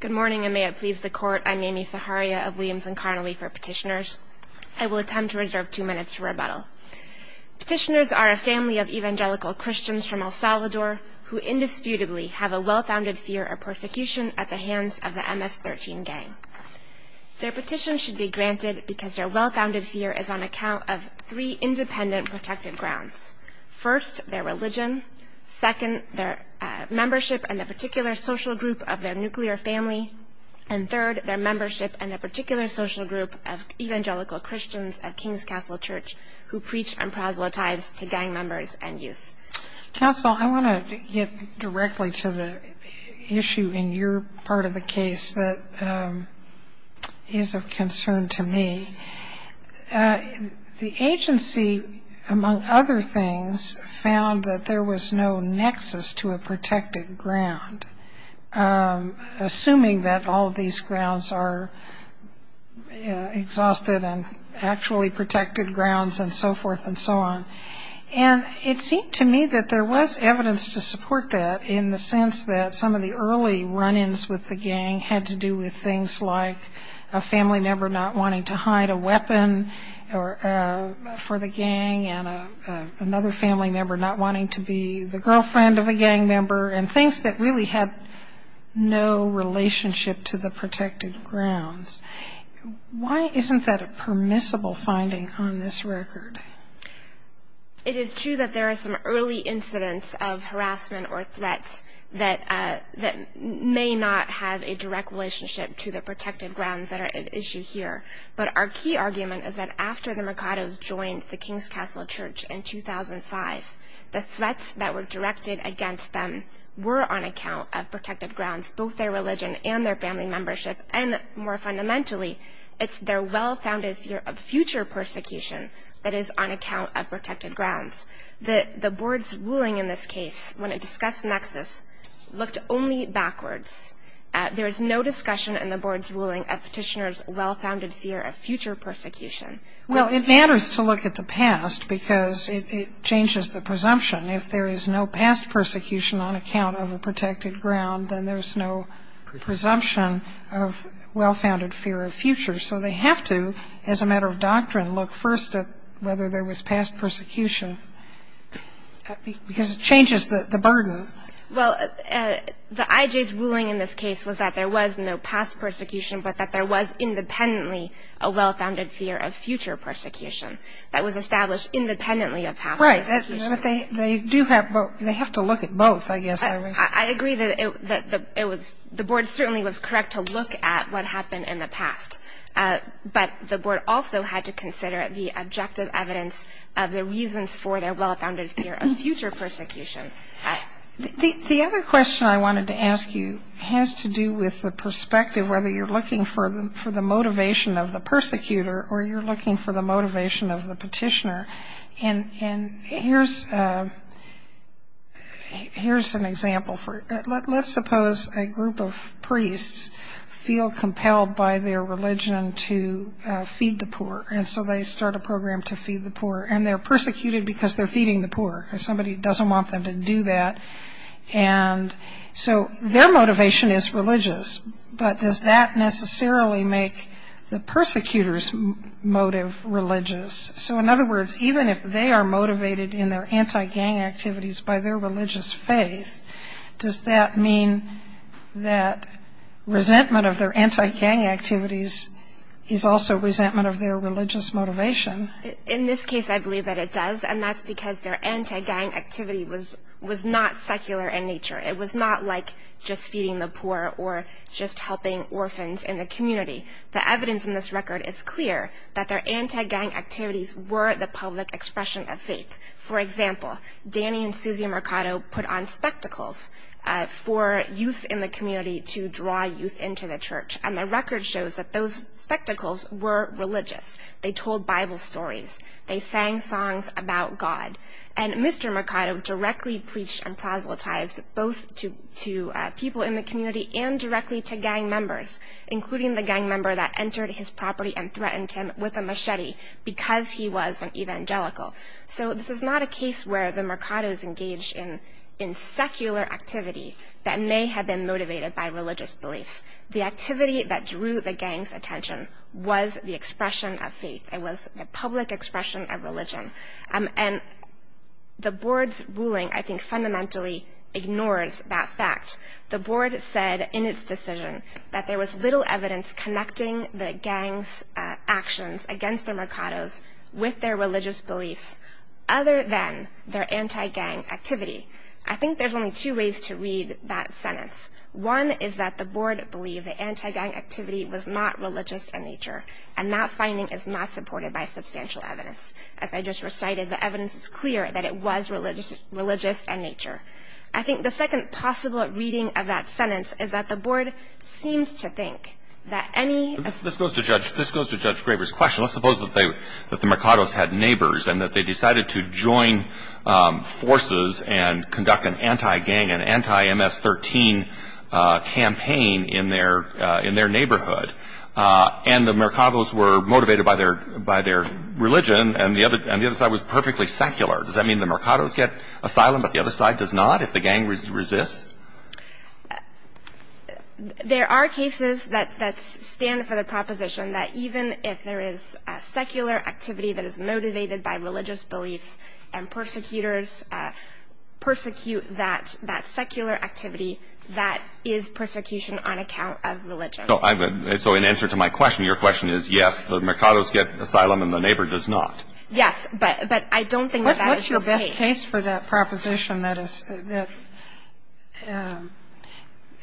Good morning, and may it please the Court, I'm Amy Saharia of Williams & Connolly for Petitioners. I will attempt to reserve two minutes for rebuttal. Petitioners are a family of evangelical Christians from El Salvador who indisputably have a well-founded fear of persecution at the hands of the MS-13 gang. Their petition should be granted because their well-founded fear is on account of three independent protected grounds. First, their religion. Second, their membership in a particular social group of their nuclear family. And third, their membership in a particular social group of evangelical Christians at King's Castle Church who preach and proselytize to gang members and youth. Counsel, I want to get directly to the issue in your part of the case that is of concern to me. The agency, among other things, found that there was no nexus to a protected ground, assuming that all of these grounds are exhausted and actually protected grounds and so forth and so on. And it seemed to me that there was evidence to support that in the sense that some of the early run-ins with the gang had to do with things like a family member not wanting to hide a weapon for the gang and another family member not wanting to be the girlfriend of a gang member and things that really had no relationship to the protected grounds. Why isn't that a permissible finding on this record? It is true that there are some early incidents of harassment or threats that may not have a direct relationship to the protected grounds that are at issue here. But our key argument is that after the Mercados joined the King's Castle Church in 2005, the threats that were directed against them were on account of protected grounds, both their religion and their family membership, and more fundamentally, it's their well-founded fear of future persecution that is on account of protected grounds. The Board's ruling in this case, when it discussed nexus, looked only backwards. There is no discussion in the Board's ruling of Petitioner's well-founded fear of future persecution. Well, it matters to look at the past because it changes the presumption. If there is no past persecution on account of a protected ground, then there's no presumption of well-founded fear of future. So they have to, as a matter of doctrine, look first at whether there was past persecution because it changes the burden. Well, the IJ's ruling in this case was that there was no past persecution but that there was independently a well-founded fear of future persecution that was established independently of past persecution. Right, but they do have to look at both, I guess. I agree that the Board certainly was correct to look at what happened in the past, but the Board also had to consider the objective evidence of the reasons for their well-founded fear of future persecution. The other question I wanted to ask you has to do with the perspective, whether you're looking for the motivation of the persecutor or you're looking for the motivation of the petitioner. And here's an example. Let's suppose a group of priests feel compelled by their religion to feed the poor, and so they start a program to feed the poor. And they're persecuted because they're feeding the poor, because somebody doesn't want them to do that. And so their motivation is religious, but does that necessarily make the persecutor's motive religious? So, in other words, even if they are motivated in their anti-gang activities by their religious faith, does that mean that resentment of their anti-gang activities is also resentment of their religious motivation? In this case, I believe that it does, and that's because their anti-gang activity was not secular in nature. It was not like just feeding the poor or just helping orphans in the community. The evidence in this record is clear that their anti-gang activities were the public expression of faith. For example, Danny and Susie Mercado put on spectacles for youth in the community to draw youth into the church, and the record shows that those spectacles were religious. They told Bible stories. They sang songs about God. And Mr. Mercado directly preached and proselytized both to people in the community and directly to gang members, including the gang member that entered his property and threatened him with a machete because he was an evangelical. So this is not a case where the Mercados engaged in secular activity that may have been motivated by religious beliefs. The activity that drew the gang's attention was the expression of faith. It was the public expression of religion. And the board's ruling, I think, fundamentally ignores that fact. The board said in its decision that there was little evidence connecting the gang's actions against the Mercados with their religious beliefs other than their anti-gang activity. I think there's only two ways to read that sentence. One is that the board believed the anti-gang activity was not religious in nature, and that finding is not supported by substantial evidence. As I just recited, the evidence is clear that it was religious in nature. I think the second possible reading of that sentence is that the board seemed to think that any ass- This goes to Judge Graber's question. Let's suppose that the Mercados had neighbors and that they decided to join forces and conduct an anti-gang, an anti-MS-13 campaign in their neighborhood. And the Mercados were motivated by their religion, and the other side was perfectly secular. Does that mean the Mercados get asylum but the other side does not if the gang resists? There are cases that stand for the proposition that even if there is a secular activity that is motivated by religious beliefs and persecutors persecute that, that secular activity, that is persecution on account of religion. So in answer to my question, your question is, yes, the Mercados get asylum and the neighbor does not. Yes, but I don't think that that is the case. What's your best case for that proposition that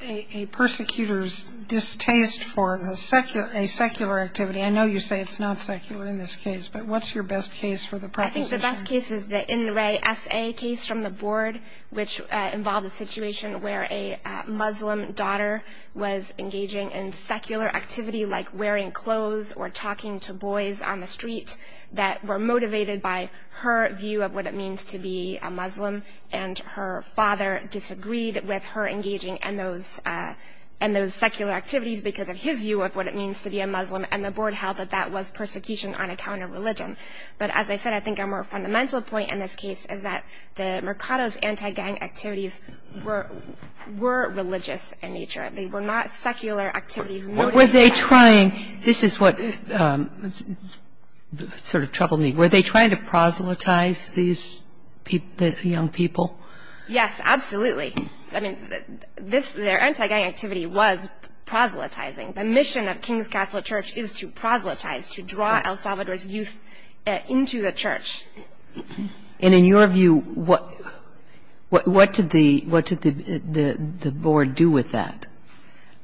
a persecutor's distaste for a secular activity- I know you say it's not secular in this case, but what's your best case for the proposition? I think the best case is the In Re S A case from the board, which involved a situation where a Muslim daughter was engaging in secular activity like wearing clothes or talking to boys on the street that were motivated by her view of what it means to be a Muslim, and her father disagreed with her engaging in those secular activities because of his view of what it means to be a Muslim, and the board held that that was persecution on account of religion. But as I said, I think our more fundamental point in this case is that the Mercados' anti-gang activities were religious in nature. They were not secular activities motivated by- Were they trying- this is what sort of troubled me. Were they trying to proselytize these young people? Yes, absolutely. I mean, their anti-gang activity was proselytizing. The mission of King's Castle Church is to proselytize, to draw El Salvador's youth into the church. And in your view, what did the board do with that?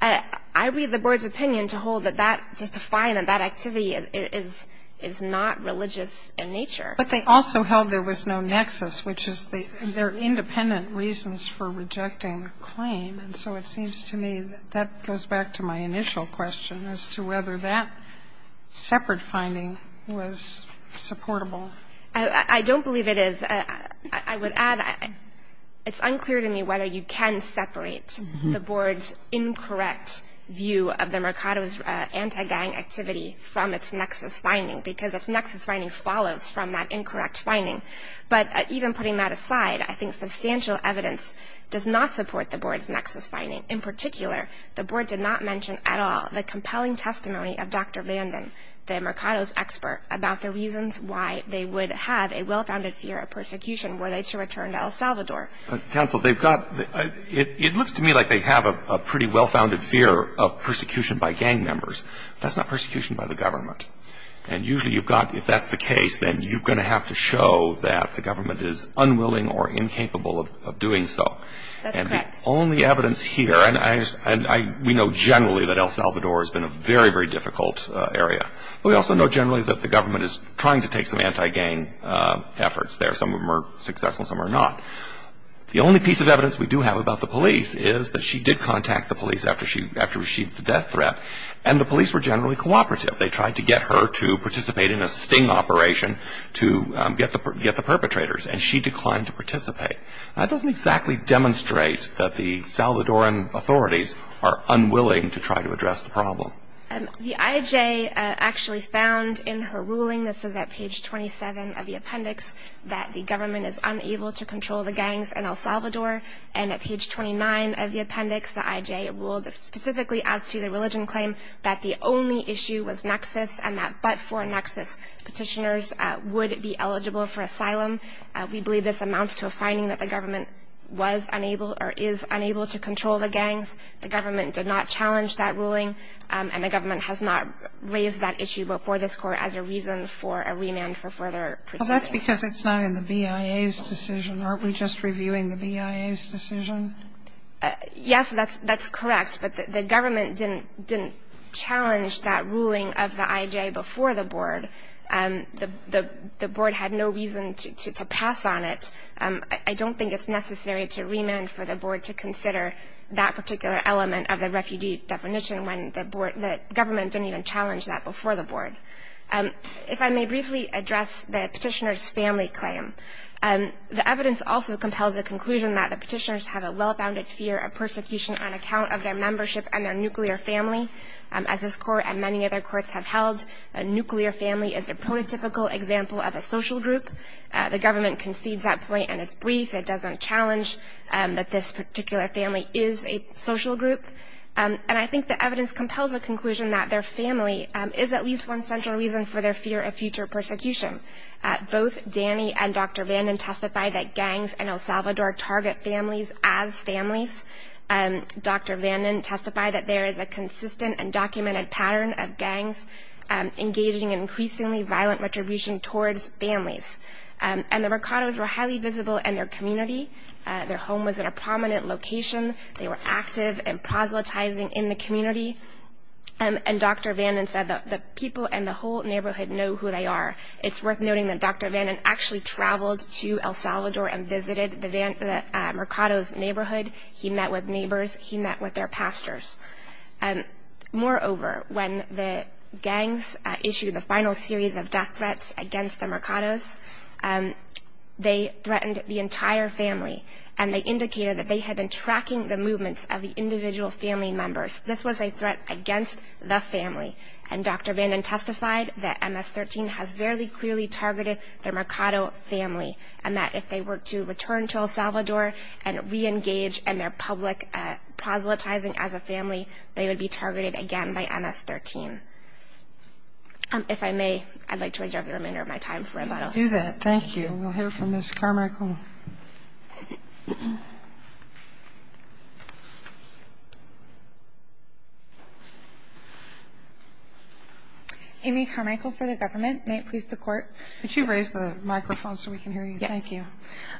I read the board's opinion to hold that that- to find that that activity is not religious in nature. But they also held there was no nexus, which is they're independent reasons for rejecting the claim. And so it seems to me that that goes back to my initial question as to whether that separate finding was supportable. I don't believe it is. I would add it's unclear to me whether you can separate the board's incorrect view of the Mercados' anti-gang activity from its nexus finding because its nexus finding follows from that incorrect finding. But even putting that aside, I think substantial evidence does not support the board's nexus finding. In particular, the board did not mention at all the compelling testimony of Dr. Vanden, the Mercados expert, about the reasons why they would have a well-founded fear of persecution were they to return to El Salvador. Counsel, they've got- it looks to me like they have a pretty well-founded fear of persecution by gang members. That's not persecution by the government. And usually you've got- if that's the case, then you're going to have to show that the government is unwilling or incapable of doing so. That's correct. The only evidence here, and we know generally that El Salvador has been a very, very difficult area, but we also know generally that the government is trying to take some anti-gang efforts there. Some of them are successful, some are not. The only piece of evidence we do have about the police is that she did contact the police after she received the death threat, and the police were generally cooperative. They tried to get her to participate in a sting operation to get the perpetrators, and she declined to participate. That doesn't exactly demonstrate that the Salvadoran authorities are unwilling to try to address the problem. The IJ actually found in her ruling, this is at page 27 of the appendix, that the government is unable to control the gangs in El Salvador. And at page 29 of the appendix, the IJ ruled specifically as to the religion claim that the only issue was nexus and that but for nexus, petitioners would be eligible for asylum. We believe this amounts to a finding that the government was unable or is unable to control the gangs. The government did not challenge that ruling, and the government has not raised that issue before this Court as a reason for a remand for further proceedings. Well, that's because it's not in the BIA's decision. Aren't we just reviewing the BIA's decision? Yes, that's correct, but the government didn't challenge that ruling of the IJ before the board. The board had no reason to pass on it. I don't think it's necessary to remand for the board to consider that particular element of the refugee definition when the government didn't even challenge that before the board. If I may briefly address the petitioner's family claim, the evidence also compels the conclusion that the petitioners have a well-founded fear of persecution on account of their membership and their nuclear family. As this Court and many other courts have held, a nuclear family is a prototypical example of a social group. The government concedes that point, and it's brief. It doesn't challenge that this particular family is a social group. And I think the evidence compels the conclusion that their family is at least one central reason for their fear of future persecution. Both Danny and Dr. Vanden testify that gangs in El Salvador target families as families. Dr. Vanden testified that there is a consistent and documented pattern of gangs engaging in increasingly violent retribution towards families. And the Mercados were highly visible in their community. Their home was in a prominent location. They were active and proselytizing in the community. And Dr. Vanden said that the people in the whole neighborhood know who they are. It's worth noting that Dr. Vanden actually traveled to El Salvador and visited the Mercados neighborhood. He met with neighbors. He met with their pastors. Moreover, when the gangs issued the final series of death threats against the Mercados, they threatened the entire family. And they indicated that they had been tracking the movements of the individual family members. This was a threat against the family. And Dr. Vanden testified that MS-13 has very clearly targeted the Mercado family and that if they were to return to El Salvador and reengage in their public proselytizing as a family, they would be targeted again by MS-13. If I may, I'd like to reserve the remainder of my time for rebuttal. Do that. Thank you. We'll hear from Ms. Carmichael. Amy Carmichael for the government. May it please the Court. Could you raise the microphone so we can hear you? Thank you.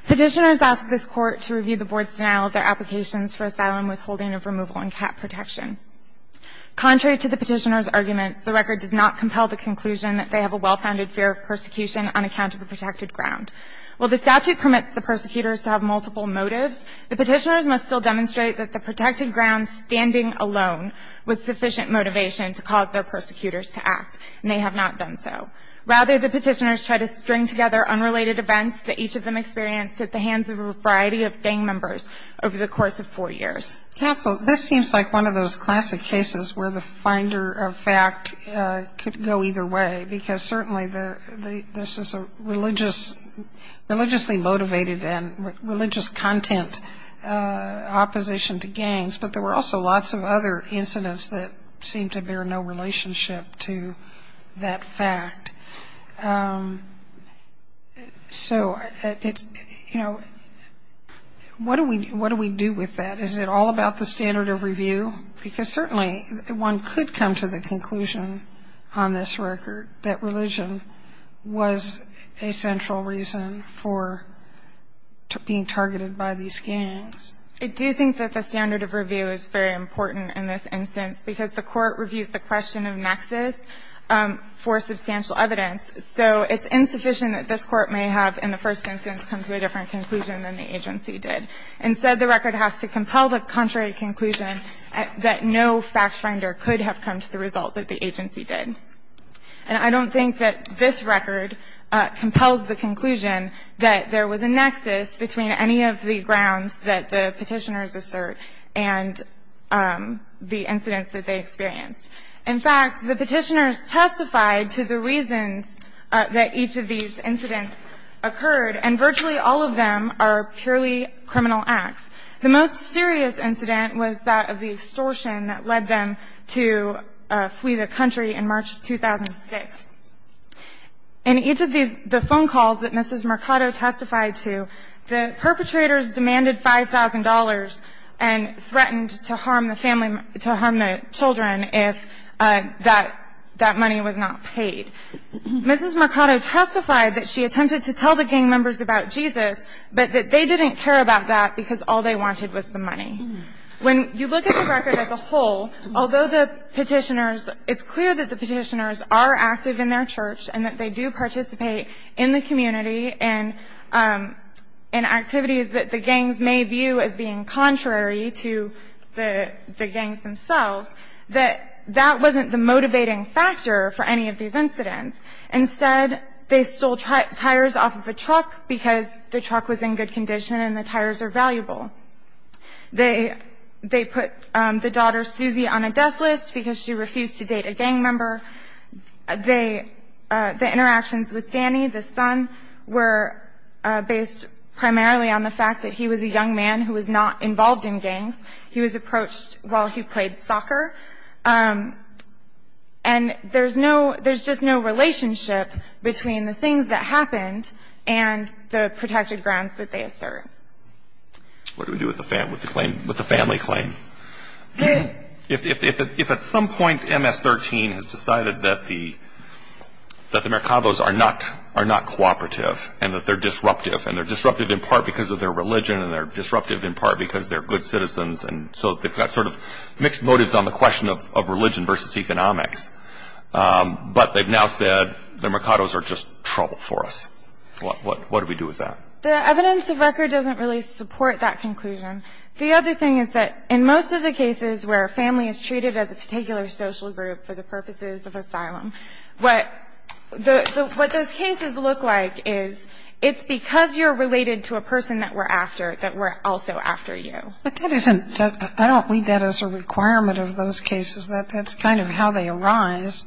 Petitioners ask this Court to review the Board's denial of their applications for asylum withholding of removal and cap protection. Contrary to the Petitioner's arguments, the record does not compel the conclusion that they have a well-founded fear of persecution on account of the protected ground. While the statute permits the persecutors to have multiple motives, the Petitioners must still demonstrate that the protected ground standing alone was sufficient motivation to cause their persecutors to act, and they have not done so. Rather, the Petitioners try to string together unrelated events that each of them experienced at the hands of a variety of gang members over the course of four years. Counsel, this seems like one of those classic cases where the finder of fact could go either way, because certainly this is a religiously motivated and religious content opposition to gangs, but there were also lots of other incidents that seemed to bear no relationship to that fact. So, you know, what do we do with that? Is it all about the standard of review? Because certainly one could come to the conclusion on this record that religion was a central reason for being targeted by these gangs. I do think that the standard of review is very important in this instance, because the Court reviews the question of nexus for substantial evidence. So it's insufficient that this Court may have in the first instance come to a different conclusion than the agency did. Instead, the record has to compel the contrary conclusion that no fact finder could have come to the result that the agency did. And I don't think that this record compels the conclusion that there was a nexus between any of the grounds that the Petitioners assert and the incidents that they experienced. In fact, the Petitioners testified to the reasons that each of these incidents occurred, and virtually all of them are purely criminal acts. The most serious incident was that of the extortion that led them to flee the country in March 2006. In each of these, the phone calls that Mrs. Mercado testified to, the perpetrators demanded $5,000 and threatened to harm the family, to harm the children if that money was not paid. Mrs. Mercado testified that she attempted to tell the gang members about Jesus, but that they didn't care about that because all they wanted was the money. When you look at the record as a whole, although the Petitioners, it's clear that the Petitioners are active in their church and that they do participate in the community and activities that the gangs may view as being contrary to the gangs themselves, that that wasn't the motivating factor for any of these incidents. Instead, they stole tires off of a truck because the truck was in good condition and the tires are valuable. They put the daughter Susie on a death list because she refused to date a gang member. The interactions with Danny, the son, were based primarily on the fact that he was a young man who was not involved in gangs. He was approached while he played soccer. And there's no – there's just no relationship between the things that happened and the protected grounds that they assert. What do we do with the family claim? If at some point MS-13 has decided that the Mercados are not cooperative and that they're disruptive, and they're disruptive in part because of their religion and they're disruptive in part because they're good citizens, and so they've got sort of mixed motives on the question of religion versus economics. But they've now said the Mercados are just trouble for us. What do we do with that? The evidence of record doesn't really support that conclusion. The other thing is that in most of the cases where a family is treated as a particular social group for the purposes of asylum, what those cases look like is it's because you're related to a person that we're after that we're also after you. But that isn't – I don't read that as a requirement of those cases. That's kind of how they arise.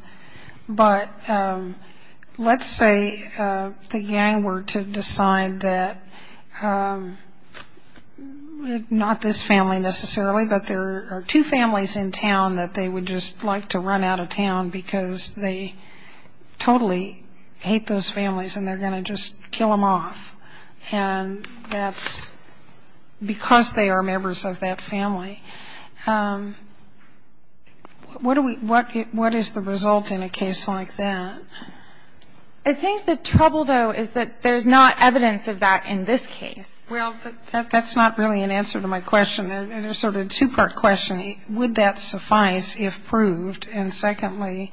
But let's say the gang were to decide that – not this family necessarily, but there are two families in town that they would just like to run out of town because they totally hate those families and they're going to just kill them off. And that's because they are members of that family. What do we – what is the result in a case like that? I think the trouble, though, is that there's not evidence of that in this case. Well, that's not really an answer to my question. It's sort of a two-part question. Would that suffice if proved? And secondly,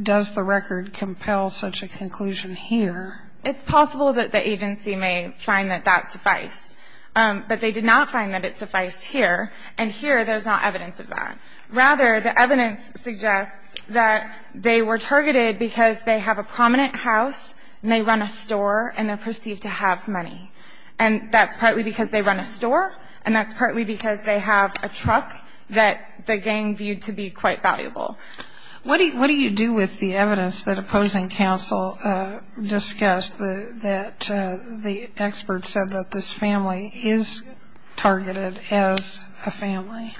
does the record compel such a conclusion here? It's possible that the agency may find that that sufficed. But they did not find that it sufficed here. And here, there's not evidence of that. Rather, the evidence suggests that they were targeted because they have a prominent house and they run a store and they're perceived to have money. And that's partly because they run a store, and that's partly because they have a truck that the gang viewed to be quite valuable. What do you do with the evidence that opposing counsel discussed, that the expert said that this family is targeted as a family?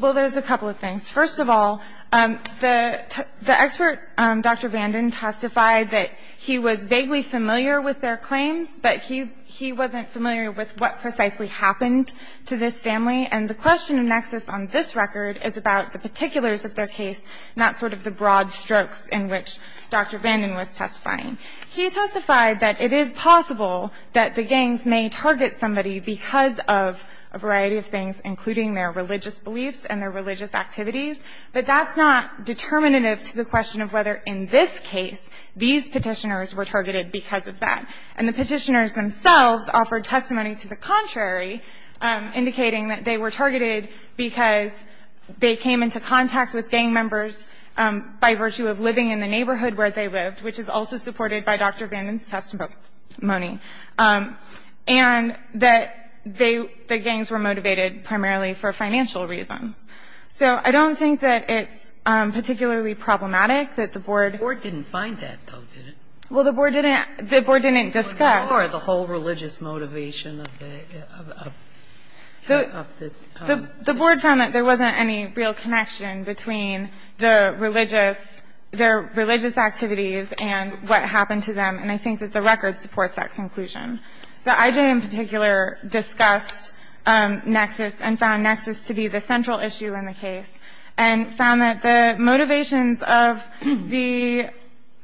Well, there's a couple of things. First of all, the expert, Dr. Vanden, testified that he was vaguely familiar with their claims, but he wasn't familiar with what precisely happened to this family. And the question of nexus on this record is about the particulars of their case, not sort of the broad strokes in which Dr. Vanden was testifying. He testified that it is possible that the gangs may target somebody because of a variety of things, including their religious beliefs and their religious activities, but that's not determinative to the question of whether in this case these Petitioners were targeted because of that. And the Petitioners themselves offered testimony to the contrary, indicating that they were targeted because they came into contact with gang members by virtue of living in the neighborhood where they lived, which is also supported by Dr. Vanden's testimony, and that they, the gangs were motivated primarily for financial reasons. So I don't think that it's particularly problematic that the Board didn't find that, though, did it? Well, the Board didn't discuss. Or the whole religious motivation of the Petitioners. The Board found that there wasn't any real connection between the religious – their religious activities and what happened to them. And I think that the record supports that conclusion. The IJ in particular discussed nexus and found nexus to be the central issue in the case, and found that the motivations of the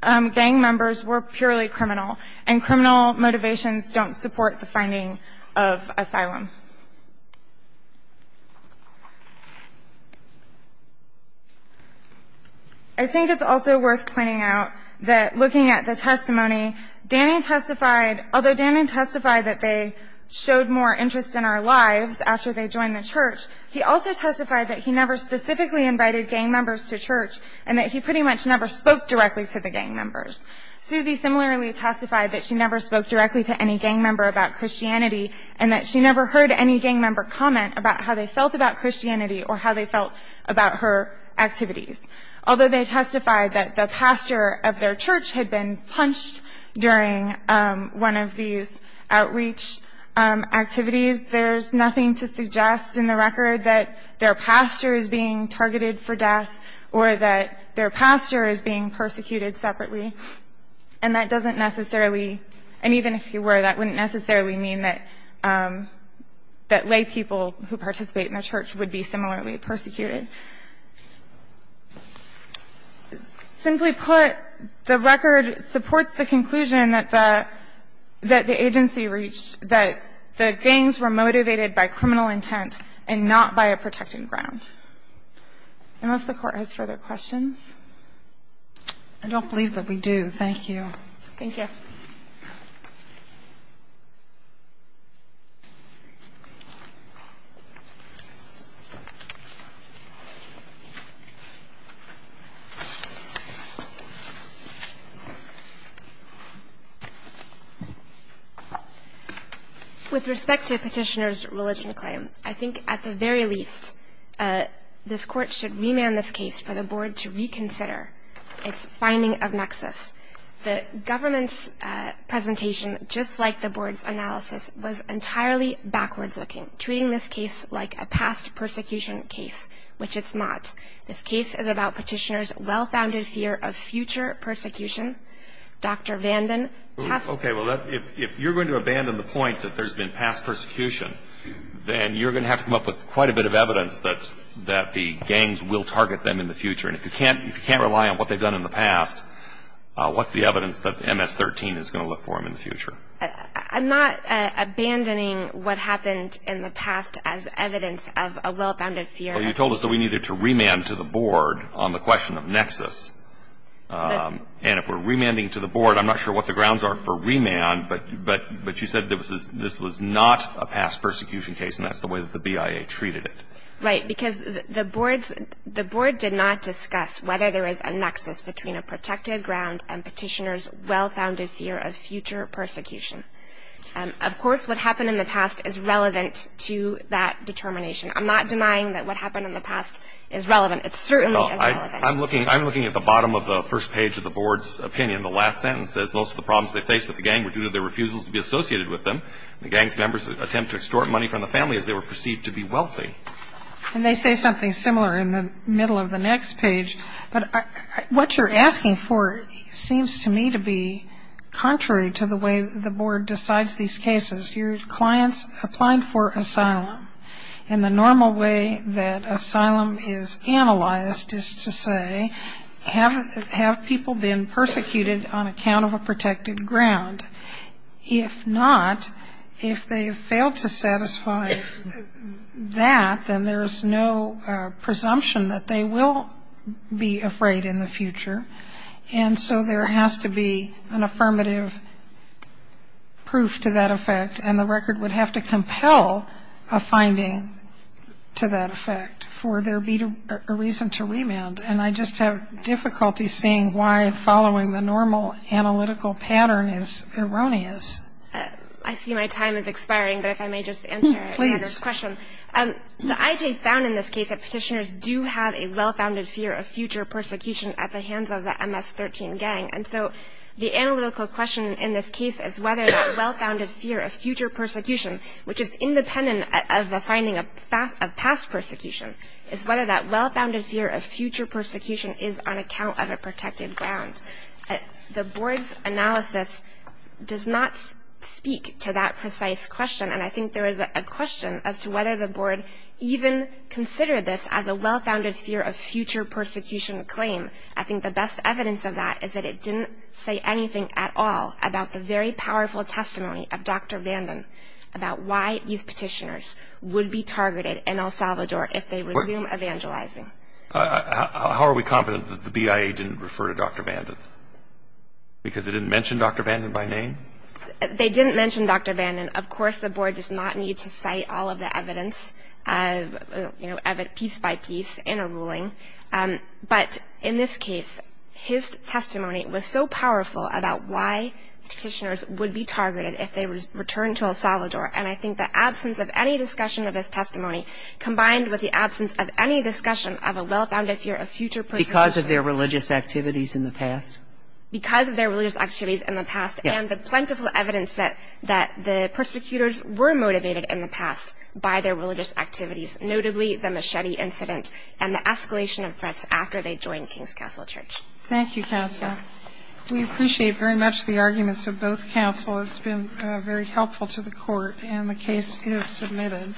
gang members were purely criminal, and criminal motivations don't support the finding of asylum. I think it's also worth pointing out that looking at the testimony, Danny testified – although Danny testified that they showed more interest in our lives after they joined the church, he also testified that he never specifically invited gang members to church and that he pretty much never spoke directly to the gang members. Susie similarly testified that she never spoke directly to any gang member about how they felt about Christianity or how they felt about her activities. Although they testified that the pastor of their church had been punched during one of these outreach activities, there's nothing to suggest in the record that their pastor is being targeted for death or that their pastor is being persecuted separately. And that doesn't necessarily – and even if you were, that wouldn't necessarily mean that laypeople who participate in a church would be similarly persecuted. Simply put, the record supports the conclusion that the agency reached, that the gangs were motivated by criminal intent and not by a protected ground. Unless the Court has further questions. I don't believe that we do. Thank you. Thank you. With respect to Petitioner's religion claim, I think at the very least, this Court should remand this case for the Board to reconsider its finding of nexus. The government's presentation, just like the Board's analysis, was entirely backwards-looking, treating this case like a past persecution case, which it's not. This case is about Petitioner's well-founded fear of future persecution. Dr. Vanden – Okay. Well, if you're going to abandon the point that there's been past persecution, then you're going to have to come up with quite a bit of evidence that the gangs will target them in the future. And if you can't rely on what they've done in the past, what's the evidence that MS-13 is going to look for them in the future? I'm not abandoning what happened in the past as evidence of a well-founded fear. Well, you told us that we needed to remand to the Board on the question of nexus. And if we're remanding to the Board, I'm not sure what the grounds are for remand, but you said this was not a past persecution case, and that's the way that the BIA treated it. Right, because the Board did not discuss whether there is a nexus between a protected ground and Petitioner's well-founded fear of future persecution. Of course, what happened in the past is relevant to that determination. I'm not denying that what happened in the past is relevant. It certainly is relevant. Well, I'm looking at the bottom of the first page of the Board's opinion. The last sentence says, Most of the problems they faced with the gang were due to their refusals to be associated with them. The gang's members attempted to extort money from the family as they were perceived to be wealthy. And they say something similar in the middle of the next page. But what you're asking for seems to me to be contrary to the way the Board decides these cases. Your clients applied for asylum. And the normal way that asylum is analyzed is to say, Have people been persecuted on account of a protected ground? If not, if they failed to satisfy that, then there's no presumption that they will be afraid in the future. And so there has to be an affirmative proof to that effect. And the record would have to compel a finding to that effect for there be a reason to remand. And I just have difficulty seeing why following the normal analytical pattern is erroneous. I see my time is expiring, but if I may just answer your question. Please. The IJ found in this case that petitioners do have a well-founded fear of future persecution at the hands of the MS-13 gang. And so the analytical question in this case is whether that well-founded fear of future persecution, which is independent of a finding of past persecution, is whether that well-founded fear of future persecution is on account of a protected ground. The Board's analysis does not speak to that precise question, and I think there is a question as to whether the Board even considered this as a well-founded fear of future persecution claim. I think the best evidence of that is that it didn't say anything at all about the very powerful testimony of Dr. Vanden about why these petitioners would be targeted in El Salvador if they resume evangelizing. How are we confident that the BIA didn't refer to Dr. Vanden? Because it didn't mention Dr. Vanden by name? They didn't mention Dr. Vanden. Of course, the Board does not need to cite all of the evidence piece by piece in a ruling. But in this case, his testimony was so powerful about why petitioners would be targeted if they returned to El Salvador. And I think the absence of any discussion of his testimony, combined with the absence of any discussion of a well-founded fear of future persecution. Because of their religious activities in the past? Because of their religious activities in the past, and the plentiful evidence that the persecutors were motivated in the past by their religious activities, notably the machete incident and the escalation of threats after they joined King's Castle Church. Thank you, Cassa. We appreciate very much the arguments of both councils. It's been very helpful to the court, and the case is submitted.